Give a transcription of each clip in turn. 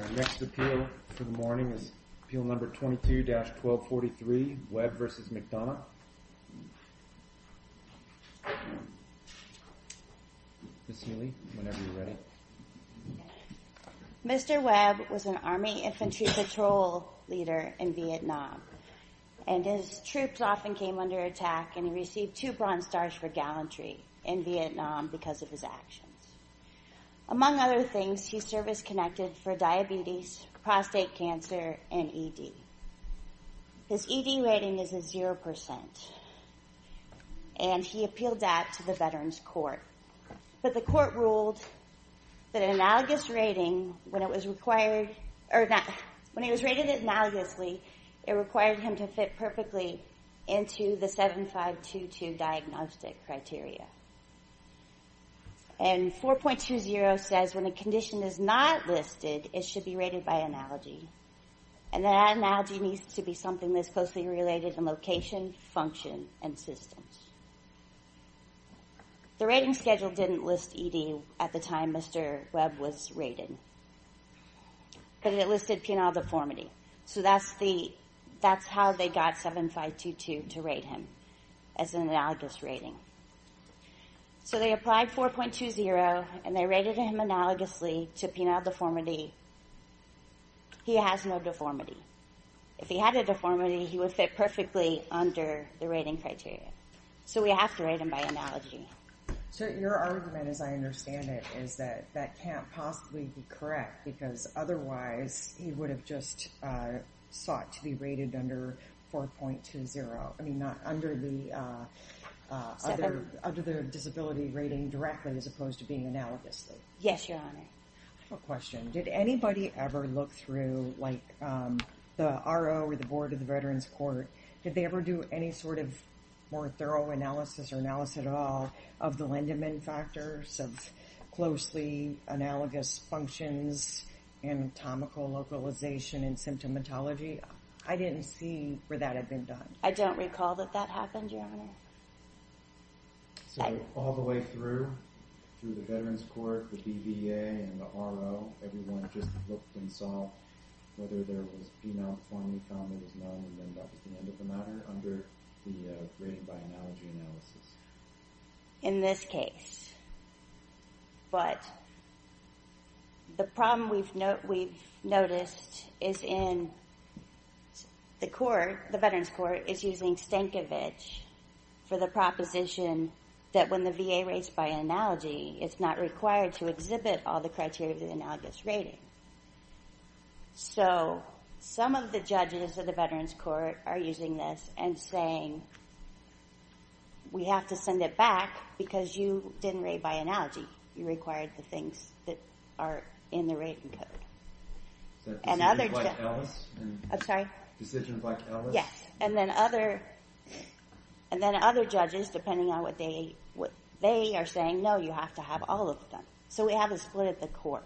Our next appeal for the morning is appeal number 22-1243, Webb v. McDonough. Ms. Neely, whenever you're ready. Mr. Webb was an Army infantry patrol leader in Vietnam, and his troops often came under attack, and he received two Bronze Stars for gallantry in Vietnam because of his actions. Among other things, he served as connected for diabetes, prostate cancer, and ED. His ED rating is a 0%, and he appealed that to the Veterans Court. But the court ruled that an analogous rating, when it was rated analogously, it required him to fit perfectly into the 7522 diagnostic criteria. And 4.20 says when a condition is not listed, it should be rated by analogy. And that analogy needs to be something that's closely related in location, function, and systems. The rating schedule didn't list ED at the time Mr. Webb was rated, but it listed penile deformity. So that's how they got 7522 to rate him, as an analogous rating. So they applied 4.20, and they rated him analogously to penile deformity. He has no deformity. If he had a deformity, he would fit perfectly under the rating criteria. So we have to rate him by analogy. So your argument, as I understand it, is that that can't possibly be correct, because otherwise he would have just sought to be rated under 4.20. I mean, not under the disability rating directly, as opposed to being analogously. Yes, Your Honor. I have a question. Did anybody ever look through, like the RO or the Board of the Veterans Court, did they ever do any sort of more thorough analysis or analysis at all of the Lindeman factors of closely analogous functions and anatomical localization and symptomatology? I didn't see where that had been done. I don't recall that that happened, Your Honor. So all the way through, through the Veterans Court, the BVA, and the RO, everyone just looked and saw whether there was penile deformity, found there was none, and then that was the end of the matter under the rating by analogy analysis? In this case. But the problem we've noticed is in the court, the Veterans Court, is using Stankovich for the proposition that when the VA rates by analogy, it's not required to exhibit all the criteria of the analogous rating. So some of the judges of the Veterans Court are using this and saying, we have to send it back because you didn't rate by analogy. You required the things that are in the rating code. So decisions like Ellis? I'm sorry? Decisions like Ellis? Yes. And then other judges, depending on what they are saying, no, you have to have all of them. So we have a split at the court,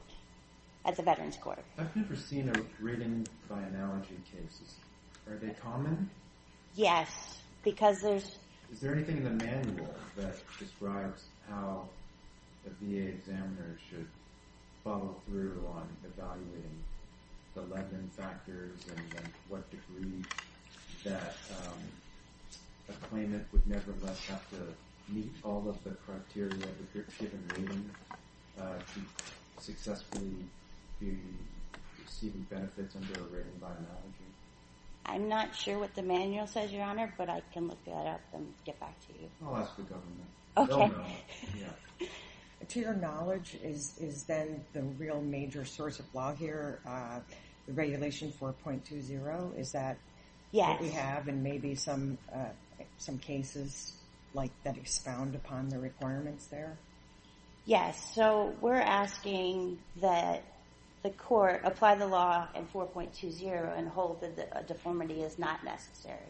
at the Veterans Court. I've never seen a rating by analogy case. Are they common? Yes, because there's – Is there anything in the manual that describes how a VA examiner should follow through on evaluating the lending factors and what degree that a claimant would nevertheless have to meet all of the criteria if you're given a rating to successfully be receiving benefits under a rating by analogy? I'm not sure what the manual says, Your Honor, but I can look that up and get back to you. I'll ask the government. Okay. To your knowledge, is then the real major source of law here the Regulation 4.20? Is that what we have in maybe some cases that expound upon the requirements there? Yes. So we're asking that the court apply the law in 4.20 and hold that a deformity is not necessary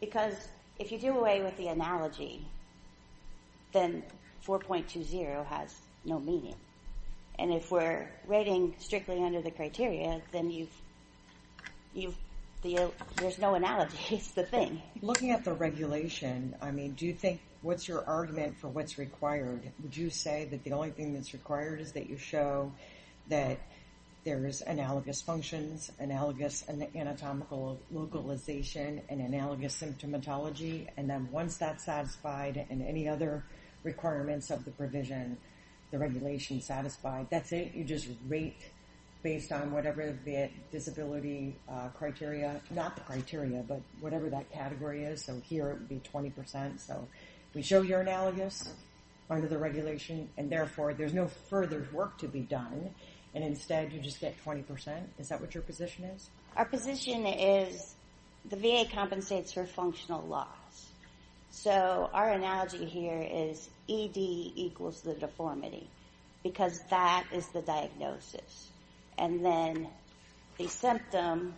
because if you do away with the analogy, then 4.20 has no meaning. And if we're rating strictly under the criteria, then there's no analogy. It's the thing. Looking at the regulation, I mean, do you think what's your argument for what's required? Would you say that the only thing that's required is that you show that there's analogous functions, analogous anatomical localization, and analogous symptomatology, and then once that's satisfied and any other requirements of the provision, the regulation's satisfied, that's it? You just rate based on whatever the disability criteria, not the criteria, but whatever that category is. So here it would be 20%. So we show you're analogous under the regulation, and therefore there's no further work to be done, and instead you just get 20%. Is that what your position is? Our position is the VA compensates for functional loss. So our analogy here is ED equals the deformity because that is the diagnosis, and then the symptom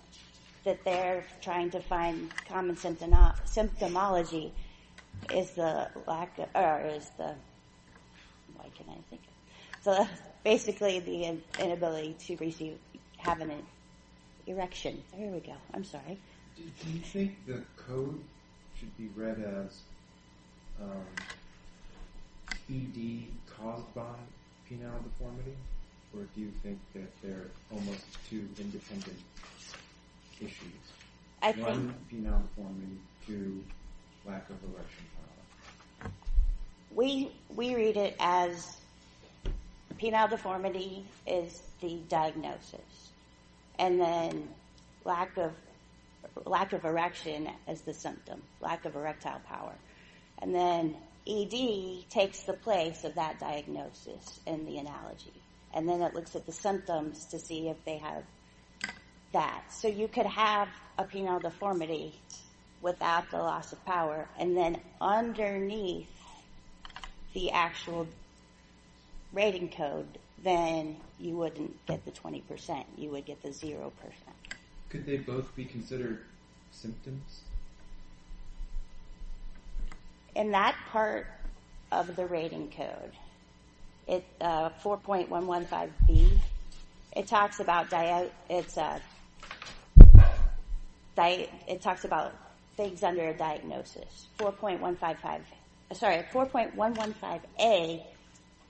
that they're trying to find common symptomology is the lack of or is the why can I think? So that's basically the inability to receive cabinet erection. There we go. I'm sorry. Do you think the code should be read as ED caused by penile deformity, or do you think that they're almost two independent issues? I think... One, penile deformity, two, lack of erection. We read it as penile deformity is the diagnosis, and then lack of erection is the symptom, lack of erectile power. And then ED takes the place of that diagnosis in the analogy, and then it looks at the symptoms to see if they have that. So you could have a penile deformity without the loss of power and then underneath the actual rating code, then you wouldn't get the 20%. You would get the 0%. Could they both be considered symptoms? In that part of the rating code, 4.115B, it talks about things under a diagnosis. 4.155A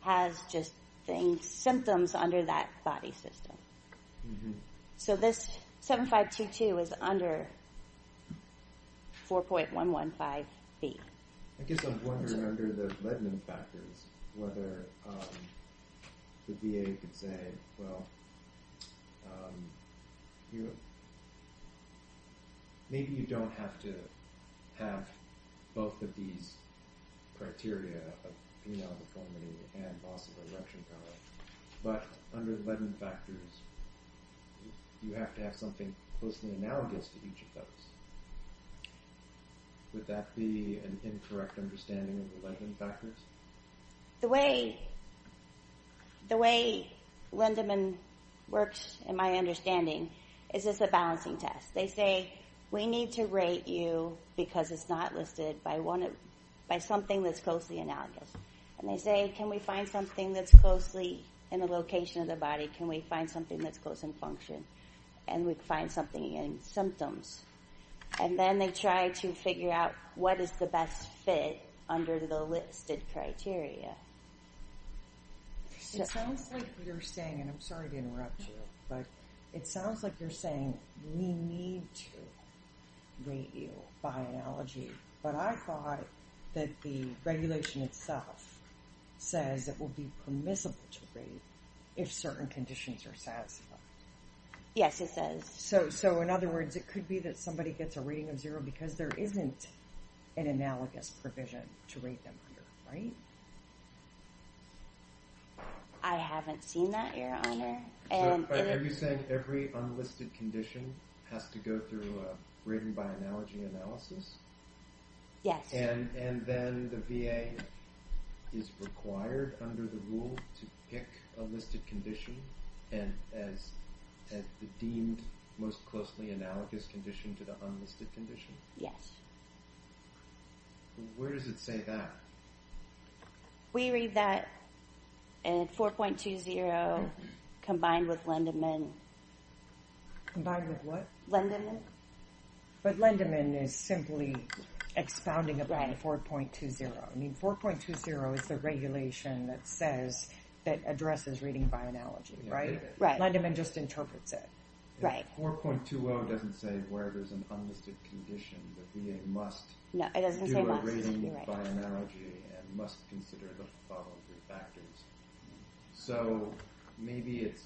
has just symptoms under that body system. So this 7522 is under 4.115B. I guess I'm wondering, under the Ledman factors, whether the VA could say, well, maybe you don't have to have both of these criteria of penile deformity and loss of erection power, but under the Ledman factors, you have to have something closely analogous to each of those. Would that be an incorrect understanding of the Ledman factors? The way Lindemann works, in my understanding, is it's a balancing test. They say, we need to rate you, because it's not listed, by something that's closely analogous. And they say, can we find something that's closely in the location of the body? Can we find something that's close in function? And we find something in symptoms. And then they try to figure out, what is the best fit under the listed criteria? It sounds like you're saying, and I'm sorry to interrupt you, but it sounds like you're saying, we need to rate you by analogy. But I thought that the regulation itself says it will be permissible to rate if certain conditions are satisfied. Yes, it says. So, in other words, it could be that somebody gets a rating of zero because there isn't an analogous provision to rate them under, right? I haven't seen that, Your Honor. Are you saying every unlisted condition has to go through a rating by analogy analysis? Yes. And then the VA is required under the rule to pick a listed condition as the deemed most closely analogous condition to the unlisted condition? Yes. Where does it say that? We read that at 4.20 combined with Lendeman. Combined with what? Lendeman. But Lendeman is simply expounding about 4.20. I mean, 4.20 is the regulation that addresses rating by analogy, right? Lendeman just interprets it. 4.20 doesn't say where there's an unlisted condition. The VA must do a rating by analogy and must consider the following factors. So maybe it's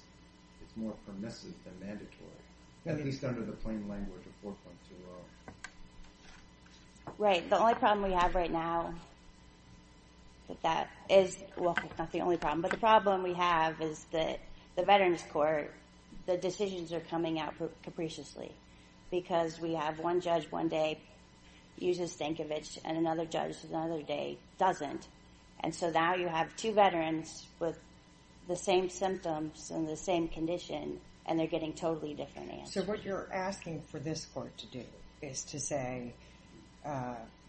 more permissive than mandatory, at least under the plain language of 4.20. Right. The only problem we have right now with that is, well, it's not the only problem, but the problem we have is that the Veterans Court, the decisions are coming out capriciously because we have one judge one day uses Stankovich and another judge another day doesn't. And so now you have two veterans with the same symptoms and the same condition and they're getting totally different answers. So what you're asking for this court to do is to say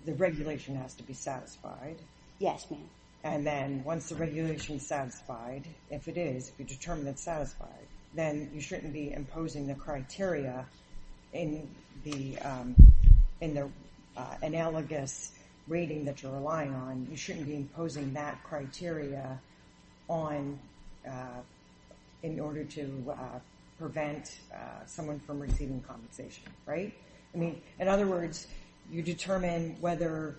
the regulation has to be satisfied. Yes, ma'am. And then once the regulation is satisfied, if it is, if you determine it's satisfied, then you shouldn't be imposing the criteria in the analogous rating that you're relying on. You shouldn't be imposing that criteria in order to prevent someone from receiving compensation, right? I mean, in other words, you determine whether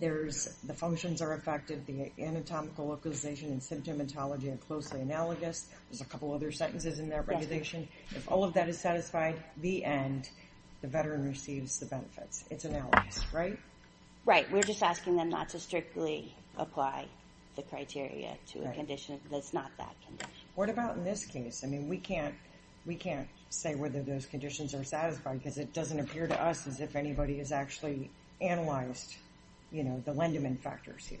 the functions are effective, the anatomical localization and symptomatology are closely analogous. There's a couple other sentences in that regulation. If all of that is satisfied, the end, the veteran receives the benefits. It's analogous, right? Right. We're just asking them not to strictly apply the criteria to a condition that's not that condition. What about in this case? I mean, we can't say whether those conditions are satisfied because it doesn't appear to us as if anybody has actually analyzed, you know, the Lindeman factors here.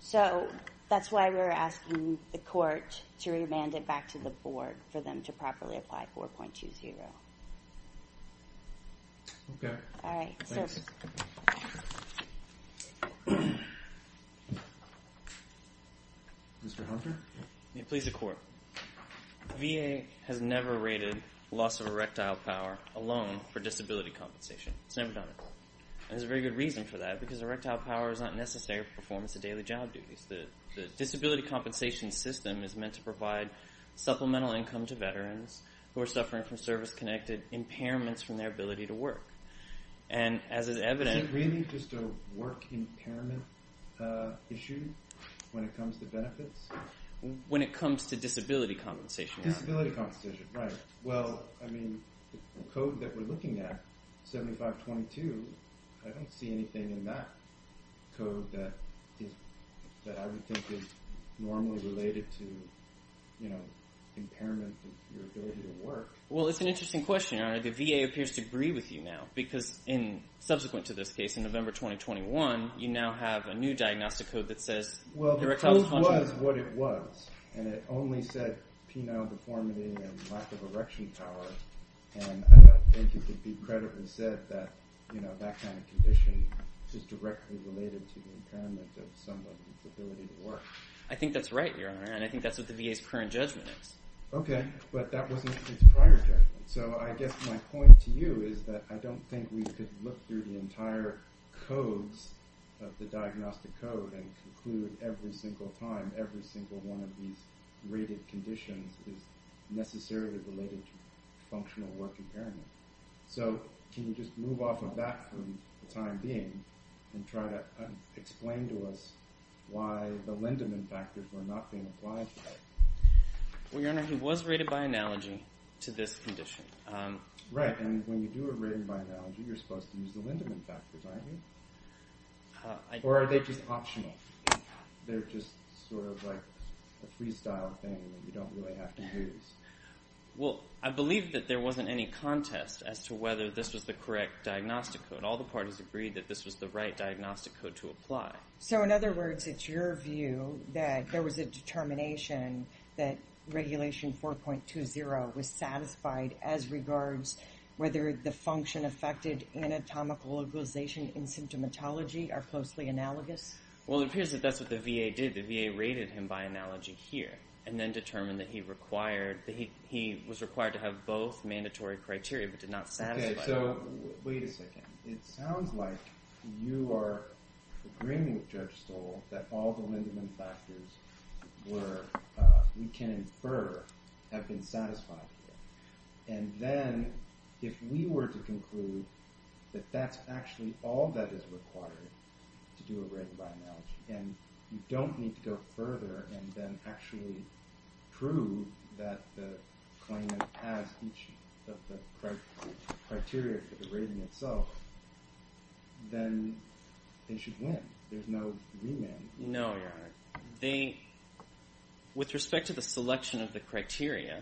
So that's why we're asking the court to remand it back to the board for them to properly apply 4.20. Okay. All right. Thanks. Mr. Hunter? Please, the court. VA has never rated loss of erectile power alone for disability compensation. It's never done it. There's a very good reason for that because erectile power is not necessary for performance of daily job duties. The disability compensation system is meant to provide supplemental income to veterans who are suffering from service-connected impairments from their ability to work. And as is evident... Is it really just a work impairment issue when it comes to benefits? When it comes to disability compensation. Disability compensation, right. Well, I mean, the code that we're looking at, 7522, I don't see anything in that code that I would think is normally related to, you know, impairment of your ability to work. Well, it's an interesting question. The VA appears to agree with you now because in subsequent to this case, in November 2021, you now have a new diagnostic code that says... Well, the code was what it was. And it only said penile deformity and lack of erection power. And I don't think it could be credibly said that, you know, that kind of condition is directly related to the impairment of someone's ability to work. I think that's right, Your Honor. And I think that's what the VA's current judgment is. Okay. But that wasn't its prior judgment. So I guess my point to you is that I don't think we could look through the entire codes of the diagnostic code and conclude every single time every single one of these rated conditions is necessarily related to functional work impairment. So can you just move off of that for the time being and try to explain to us why the Lindemann factors were not being applied? Well, Your Honor, he was rated by analogy to this condition. Right, and when you do it rated by analogy, you're supposed to use the Lindemann factors, aren't you? Or are they just optional? They're just sort of like a freestyle thing that you don't really have to use? Well, I believe that there wasn't any contest as to whether this was the correct diagnostic code. All the parties agreed that this was the right diagnostic code to apply. So in other words, it's your view that there was a determination that regulation 4.20 was satisfied as regards whether the function affected anatomical localization in symptomatology are closely analogous? Well, it appears that that's what the VA did. The VA rated him by analogy here and then determined that he required that he was required to have both mandatory criteria but did not satisfy. Okay, so wait a second. It sounds like you are agreeing with Judge Stoll that all the Lindemann factors where we can infer have been satisfied here. And then if we were to conclude that that's actually all that is required to do a rated by analogy and you don't need to go further and then actually prove that the claimant has each of the criteria for the rating itself, then they should win. There's no remand. No, Your Honor. With respect to the selection of the criteria,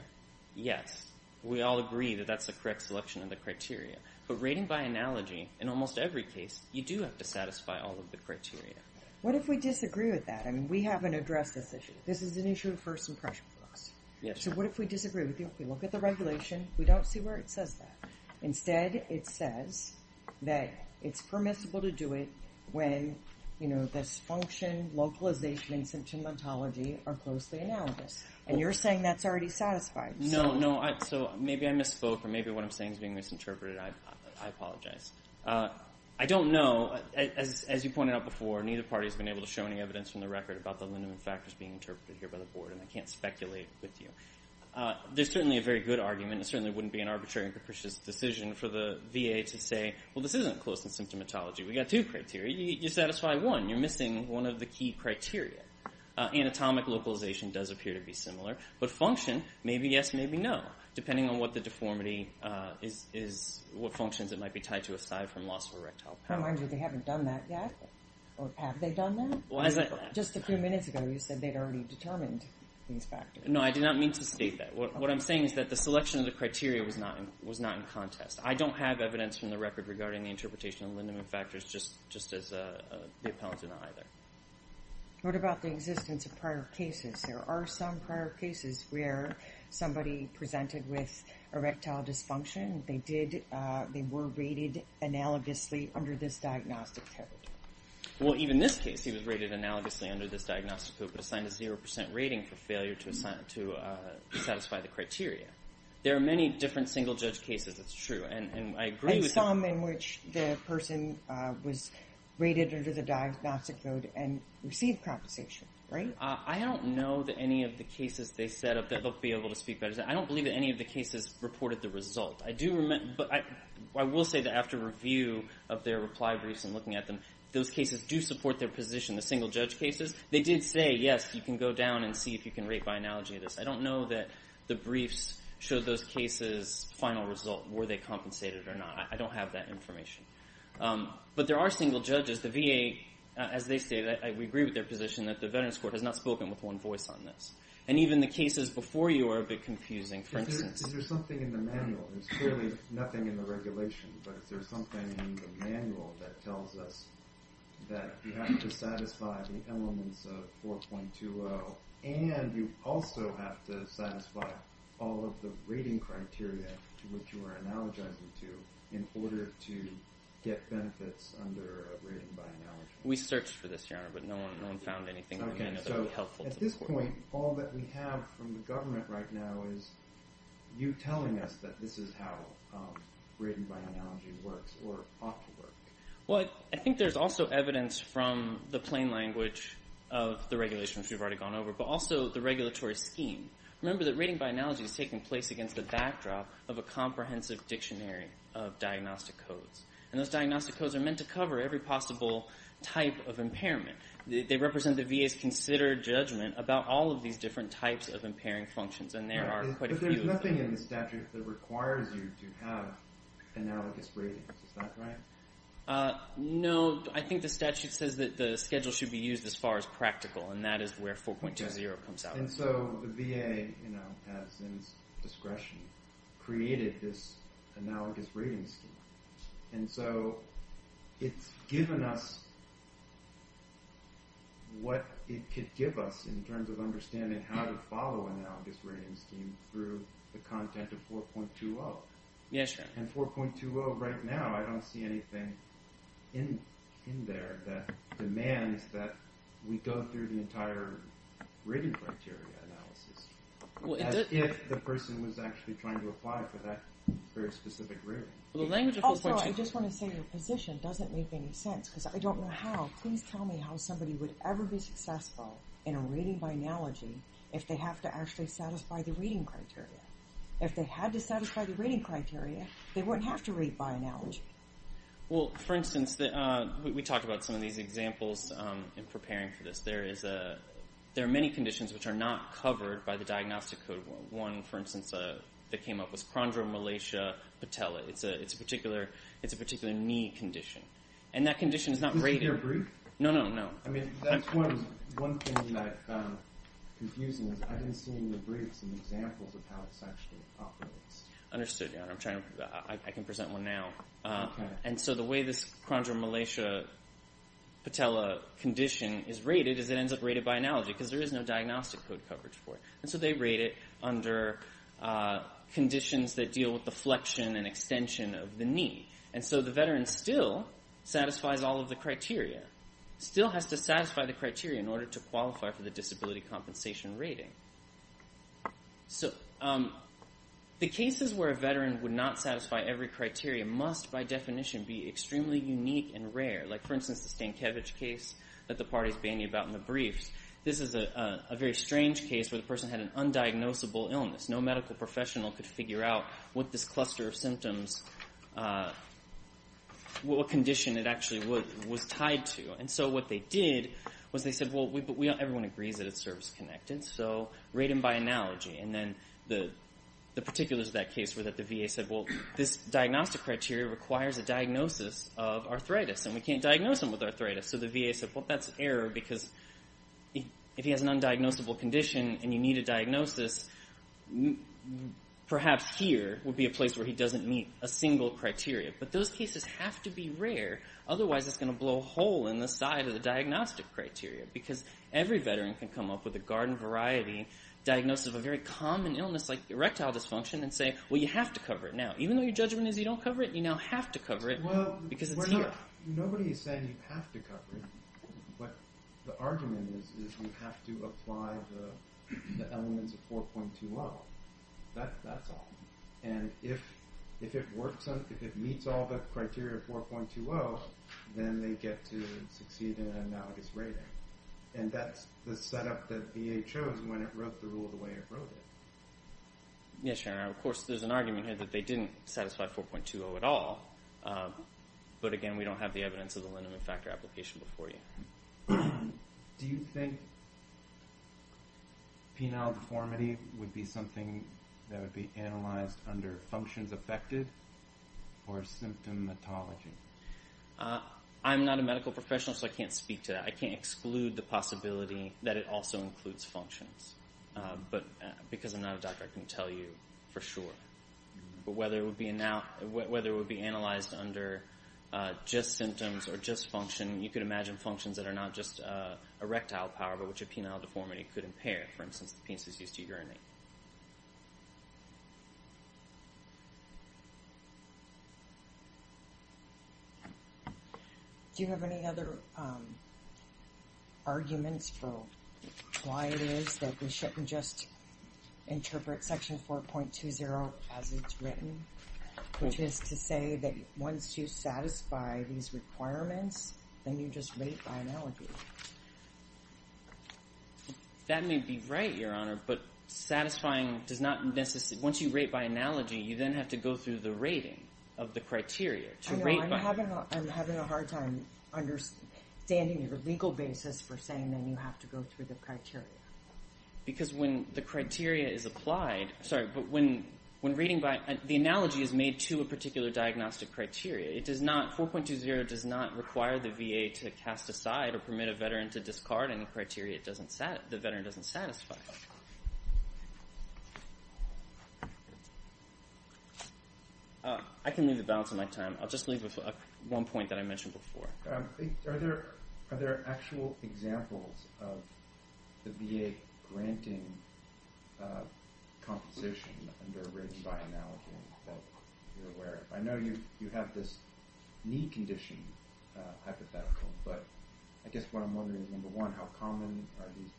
yes, we all agree that that's the correct selection of the criteria. But rating by analogy, in almost every case, you do have to satisfy all of the criteria. What if we disagree with that? I mean, we haven't addressed this issue. This is an issue of first impression for us. So what if we disagree with you? If we look at the regulation, we don't see where it says that. Instead, it says that it's permissible to do it when, you know, dysfunction, localization, and symptomatology are closely analogous. And you're saying that's already satisfied. No, no. So maybe I misspoke or maybe what I'm saying is being misinterpreted. I apologize. I don't know. As you pointed out before, neither party has been able to show any evidence from the record about the linear factors being interpreted here by the board, and I can't speculate with you. There's certainly a very good argument. It certainly wouldn't be an arbitrary and capricious decision for the VA to say, well, this isn't close in symptomatology. We've got two criteria. You satisfy one. You're missing one of the key criteria. Anatomic localization does appear to be similar. But function, maybe yes, maybe no, depending on what the deformity is, what functions it might be tied to aside from loss of erectile power. I want to remind you they haven't done that yet. Or have they done that? Just a few minutes ago you said they'd already determined these factors. No, I did not mean to state that. What I'm saying is that the selection of the criteria was not in contest. I don't have evidence from the record regarding the interpretation of linear factors, just as the appellant did not either. What about the existence of prior cases? There are some prior cases where somebody presented with erectile dysfunction. They were rated analogously under this diagnostic code. Well, even this case, he was rated analogously under this diagnostic code but assigned a 0% rating for failure to satisfy the criteria. There are many different single-judge cases, it's true, and I agree with that. And some in which the person was rated under the diagnostic code and received compensation, right? I don't know that any of the cases they set up that they'll be able to speak about it. I don't believe that any of the cases reported the result. I will say that after review of their reply briefs and looking at them, those cases do support their position, the single-judge cases. They did say, yes, you can go down and see if you can rate by analogy this. I don't know that the briefs showed those cases' final result, were they compensated or not. I don't have that information. But there are single judges. The VA, as they say, we agree with their position that the Veterans Court has not spoken with one voice on this. And even the cases before you are a bit confusing, for instance. Is there something in the manual? There's clearly nothing in the regulation, but is there something in the manual that tells us that you have to satisfy the elements of 4.20 and you also have to satisfy all of the rating criteria to which you are analogizing to in order to get benefits under a rating by analogy? We searched for this, Your Honor, but no one found anything that would be helpful. At this point, all that we have from the government right now is you telling us that this is how rating by analogy works or ought to work. Well, I think there's also evidence from the plain language of the regulations we've already gone over, but also the regulatory scheme. Remember that rating by analogy is taking place against the backdrop of a comprehensive dictionary of diagnostic codes. They represent the VA's considered judgment about all of these different types of impairing functions, and there are quite a few of them. But there's nothing in the statute that requires you to have analogous ratings. Is that right? No. I think the statute says that the schedule should be used as far as practical, and that is where 4.20 comes out. And so the VA, you know, has, in discretion, created this analogous rating scheme. And so it's given us what it could give us in terms of understanding how to follow an analogous ratings scheme through the content of 4.20. Yes, Your Honor. And 4.20 right now, I don't see anything in there that demands that we go through the entire rating criteria analysis as if the person was actually trying to apply for that very specific rating. Also, I just want to say your position doesn't make any sense because I don't know how. Please tell me how somebody would ever be successful in a rating by analogy if they have to actually satisfy the rating criteria. If they had to satisfy the rating criteria, they wouldn't have to rate by analogy. Well, for instance, we talked about some of these examples in preparing for this. There are many conditions which are not covered by the diagnostic code. One, for instance, that came up was chondromalacia patella. It's a particular knee condition. And that condition is not rated. Is it your brief? No, no, no. I mean, that's one thing that I found confusing is I didn't see in your brief some examples of how it's actually populates. Understood, Your Honor. I can present one now. And so the way this chondromalacia patella condition is rated is it ends up rated by analogy because there is no diagnostic code coverage for it. And so they rate it under conditions that deal with the flexion and extension of the knee. And so the veteran still satisfies all of the criteria, still has to satisfy the criteria in order to qualify for the disability compensation rating. So the cases where a veteran would not satisfy every criteria must, by definition, be extremely unique and rare. Like, for instance, the Stankiewicz case that the party is banging about in the briefs. This is a very strange case where the person had an undiagnosable illness. No medical professional could figure out what this cluster of symptoms, what condition it actually was tied to. And so what they did was they said, Well, everyone agrees that it's service-connected, so rate them by analogy. And then the particulars of that case were that the VA said, Well, this diagnostic criteria requires a diagnosis of arthritis, and we can't diagnose them with arthritis. So the VA said, Well, that's error because if he has an undiagnosable condition and you need a diagnosis, perhaps here would be a place where he doesn't meet a single criteria. But those cases have to be rare, otherwise it's going to blow a hole in the side of the diagnostic criteria because every veteran can come up with a garden-variety diagnosis of a very common illness like erectile dysfunction and say, Well, you have to cover it now. Even though your judgment is you don't cover it, you now have to cover it because it's here. Nobody said you have to cover it, but the argument is you have to apply the elements of 4.20. That's all. And if it meets all the criteria of 4.20, then they get to succeed in an analogous rating. And that's the setup that VA chose when it wrote the rule the way it wrote it. Yes, General. Of course, there's an argument here that they didn't satisfy 4.20 at all, but, again, we don't have the evidence of the liniment factor application before you. Do you think penile deformity would be something that would be analyzed under functions affected or symptomatology? I'm not a medical professional, so I can't speak to that. I can't exclude the possibility that it also includes functions. But because I'm not a doctor, I couldn't tell you for sure. But whether it would be analyzed under just symptoms or just function, you could imagine functions that are not just erectile power, but which a penile deformity could impair, for instance, the penises used to urinate. Do you have any other arguments for why it is that we shouldn't just interpret Section 4.20 as it's written, which is to say that once you satisfy these requirements, then you just rate by analogy? That may be right, Your Honor, but satisfying does not necessarily... Once you rate by analogy, you then have to go through the rating of the criteria to rate by... I know. I'm having a hard time understanding your legal basis for saying that you have to go through the criteria. Because when the criteria is applied... Sorry, but when reading by... The analogy is made to a particular diagnostic criteria. It does not... 4.20 does not require the VA to cast aside or permit a veteran to discard any criteria the veteran doesn't satisfy. I can leave the balance of my time. I'll just leave with one point that I mentioned before. Are there actual examples of the VA granting compensation under rating by analogy that you're aware of? I know you have this knee condition hypothetical, but I guess what I'm wondering is, number one, how common are these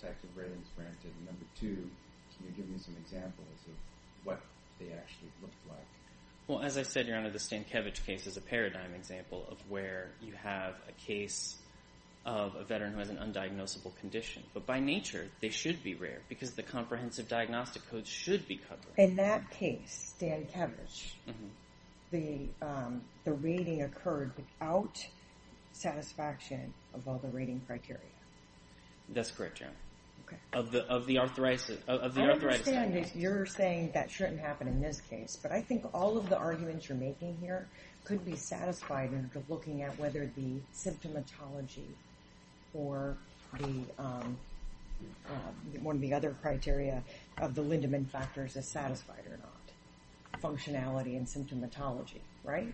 types of ratings granted? And number two, can you give me some examples of what they actually look like? Well, as I said, Your Honor, the Stankiewicz case is a paradigm example of where you have a case of a veteran who has an undiagnosable condition. But by nature, they should be rare because the comprehensive diagnostic codes should be covered. In that case, Stankiewicz, the rating occurred without satisfaction of all the rating criteria. That's correct, Your Honor. Of the authorized... I understand that you're saying that shouldn't happen in this case, but I think all of the arguments you're making here could be satisfied in looking at whether the symptomatology or one of the other criteria of the Lindemann factors is satisfied or not. Functionality and symptomatology, right?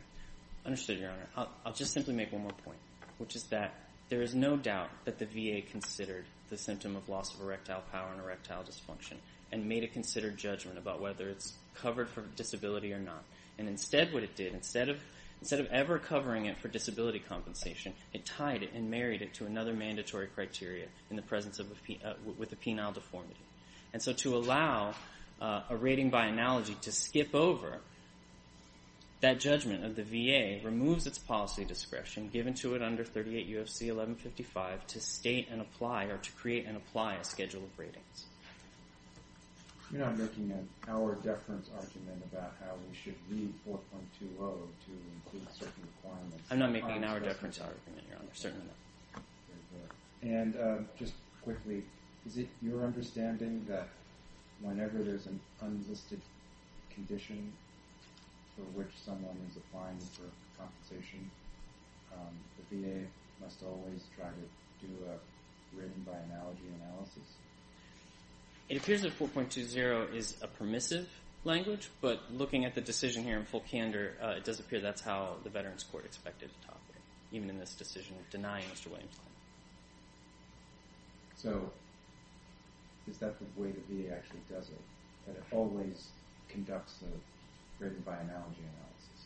Understood, Your Honor. I'll just simply make one more point, which is that there is no doubt that the VA considered the symptom of loss of erectile power and erectile dysfunction and made a considered judgment about whether it's covered for disability or not. And instead what it did, instead of ever covering it for disability compensation, it tied it and married it to another mandatory criteria in the presence of a penile deformity. And so to allow a rating by analogy to skip over, that judgment of the VA removes its policy discretion given to it under 38 U.F.C. 1155 to state and apply or to create and apply a schedule of ratings. You're not making an hour deference argument about how we should read 4.20 to include certain requirements. I'm not making an hour deference argument, Your Honor. Certainly not. And just quickly, is it your understanding that whenever there's an unlisted condition for which someone is applying for compensation, the VA must always try to do a rating by analogy analysis? It appears that 4.20 is a permissive language, but looking at the decision here in full candor, it does appear that's how the Veterans Court expected to top it, even in this decision of denying Mr. Williams' claim. So is that the way the VA actually does it, that it always conducts a rating by analogy analysis?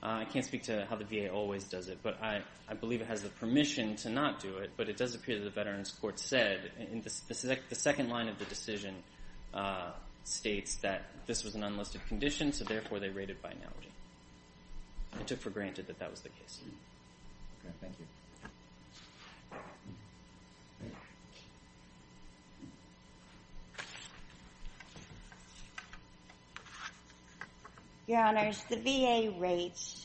I can't speak to how the VA always does it, but I believe it has the permission to not do it, but it does appear that the Veterans Court said, in the second line of the decision, states that this was an unlisted condition, so therefore they rated by analogy. They took for granted that that was the case. Thank you. Your Honors, the VA rates...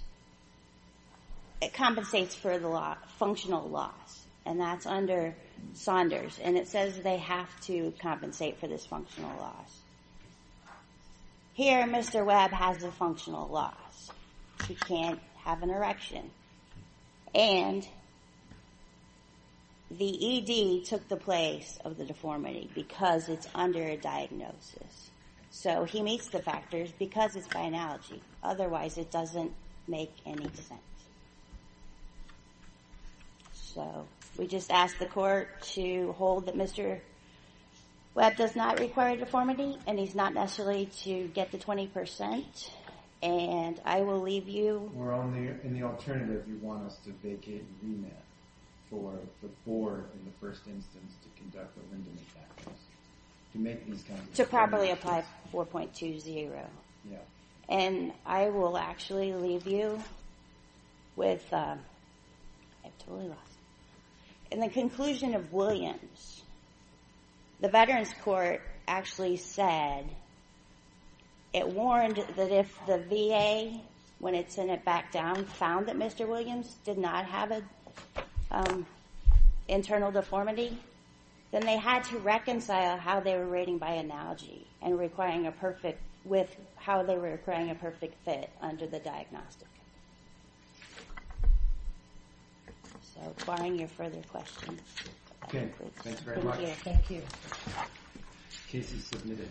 It compensates for the functional loss, and that's under Saunders, and it says they have to compensate for this functional loss. Here, Mr. Webb has a functional loss. He can't have an erection. And the ED took the place of the deformity because it's under a diagnosis. So he meets the factors because it's by analogy. Otherwise, it doesn't make any sense. So we just ask the court to hold that Mr. Webb does not require deformity, and he's not necessarily to get the 20%. And I will leave you... We're only... In the alternative, you want us to vacate an e-mail for the board in the first instance to conduct the Lindemann factors, to make these kinds of determinations. To properly apply 4.20. And I will actually leave you with... I totally lost it. In the conclusion of Williams, the Veterans Court actually said... It warned that if the VA, when it sent it back down, found that Mr. Williams did not have an internal deformity, then they had to reconcile how they were rating by analogy and requiring a perfect width, how they were requiring a perfect fit under the diagnostic. So barring your further questions... Okay. Thanks very much. Thank you. Case is submitted.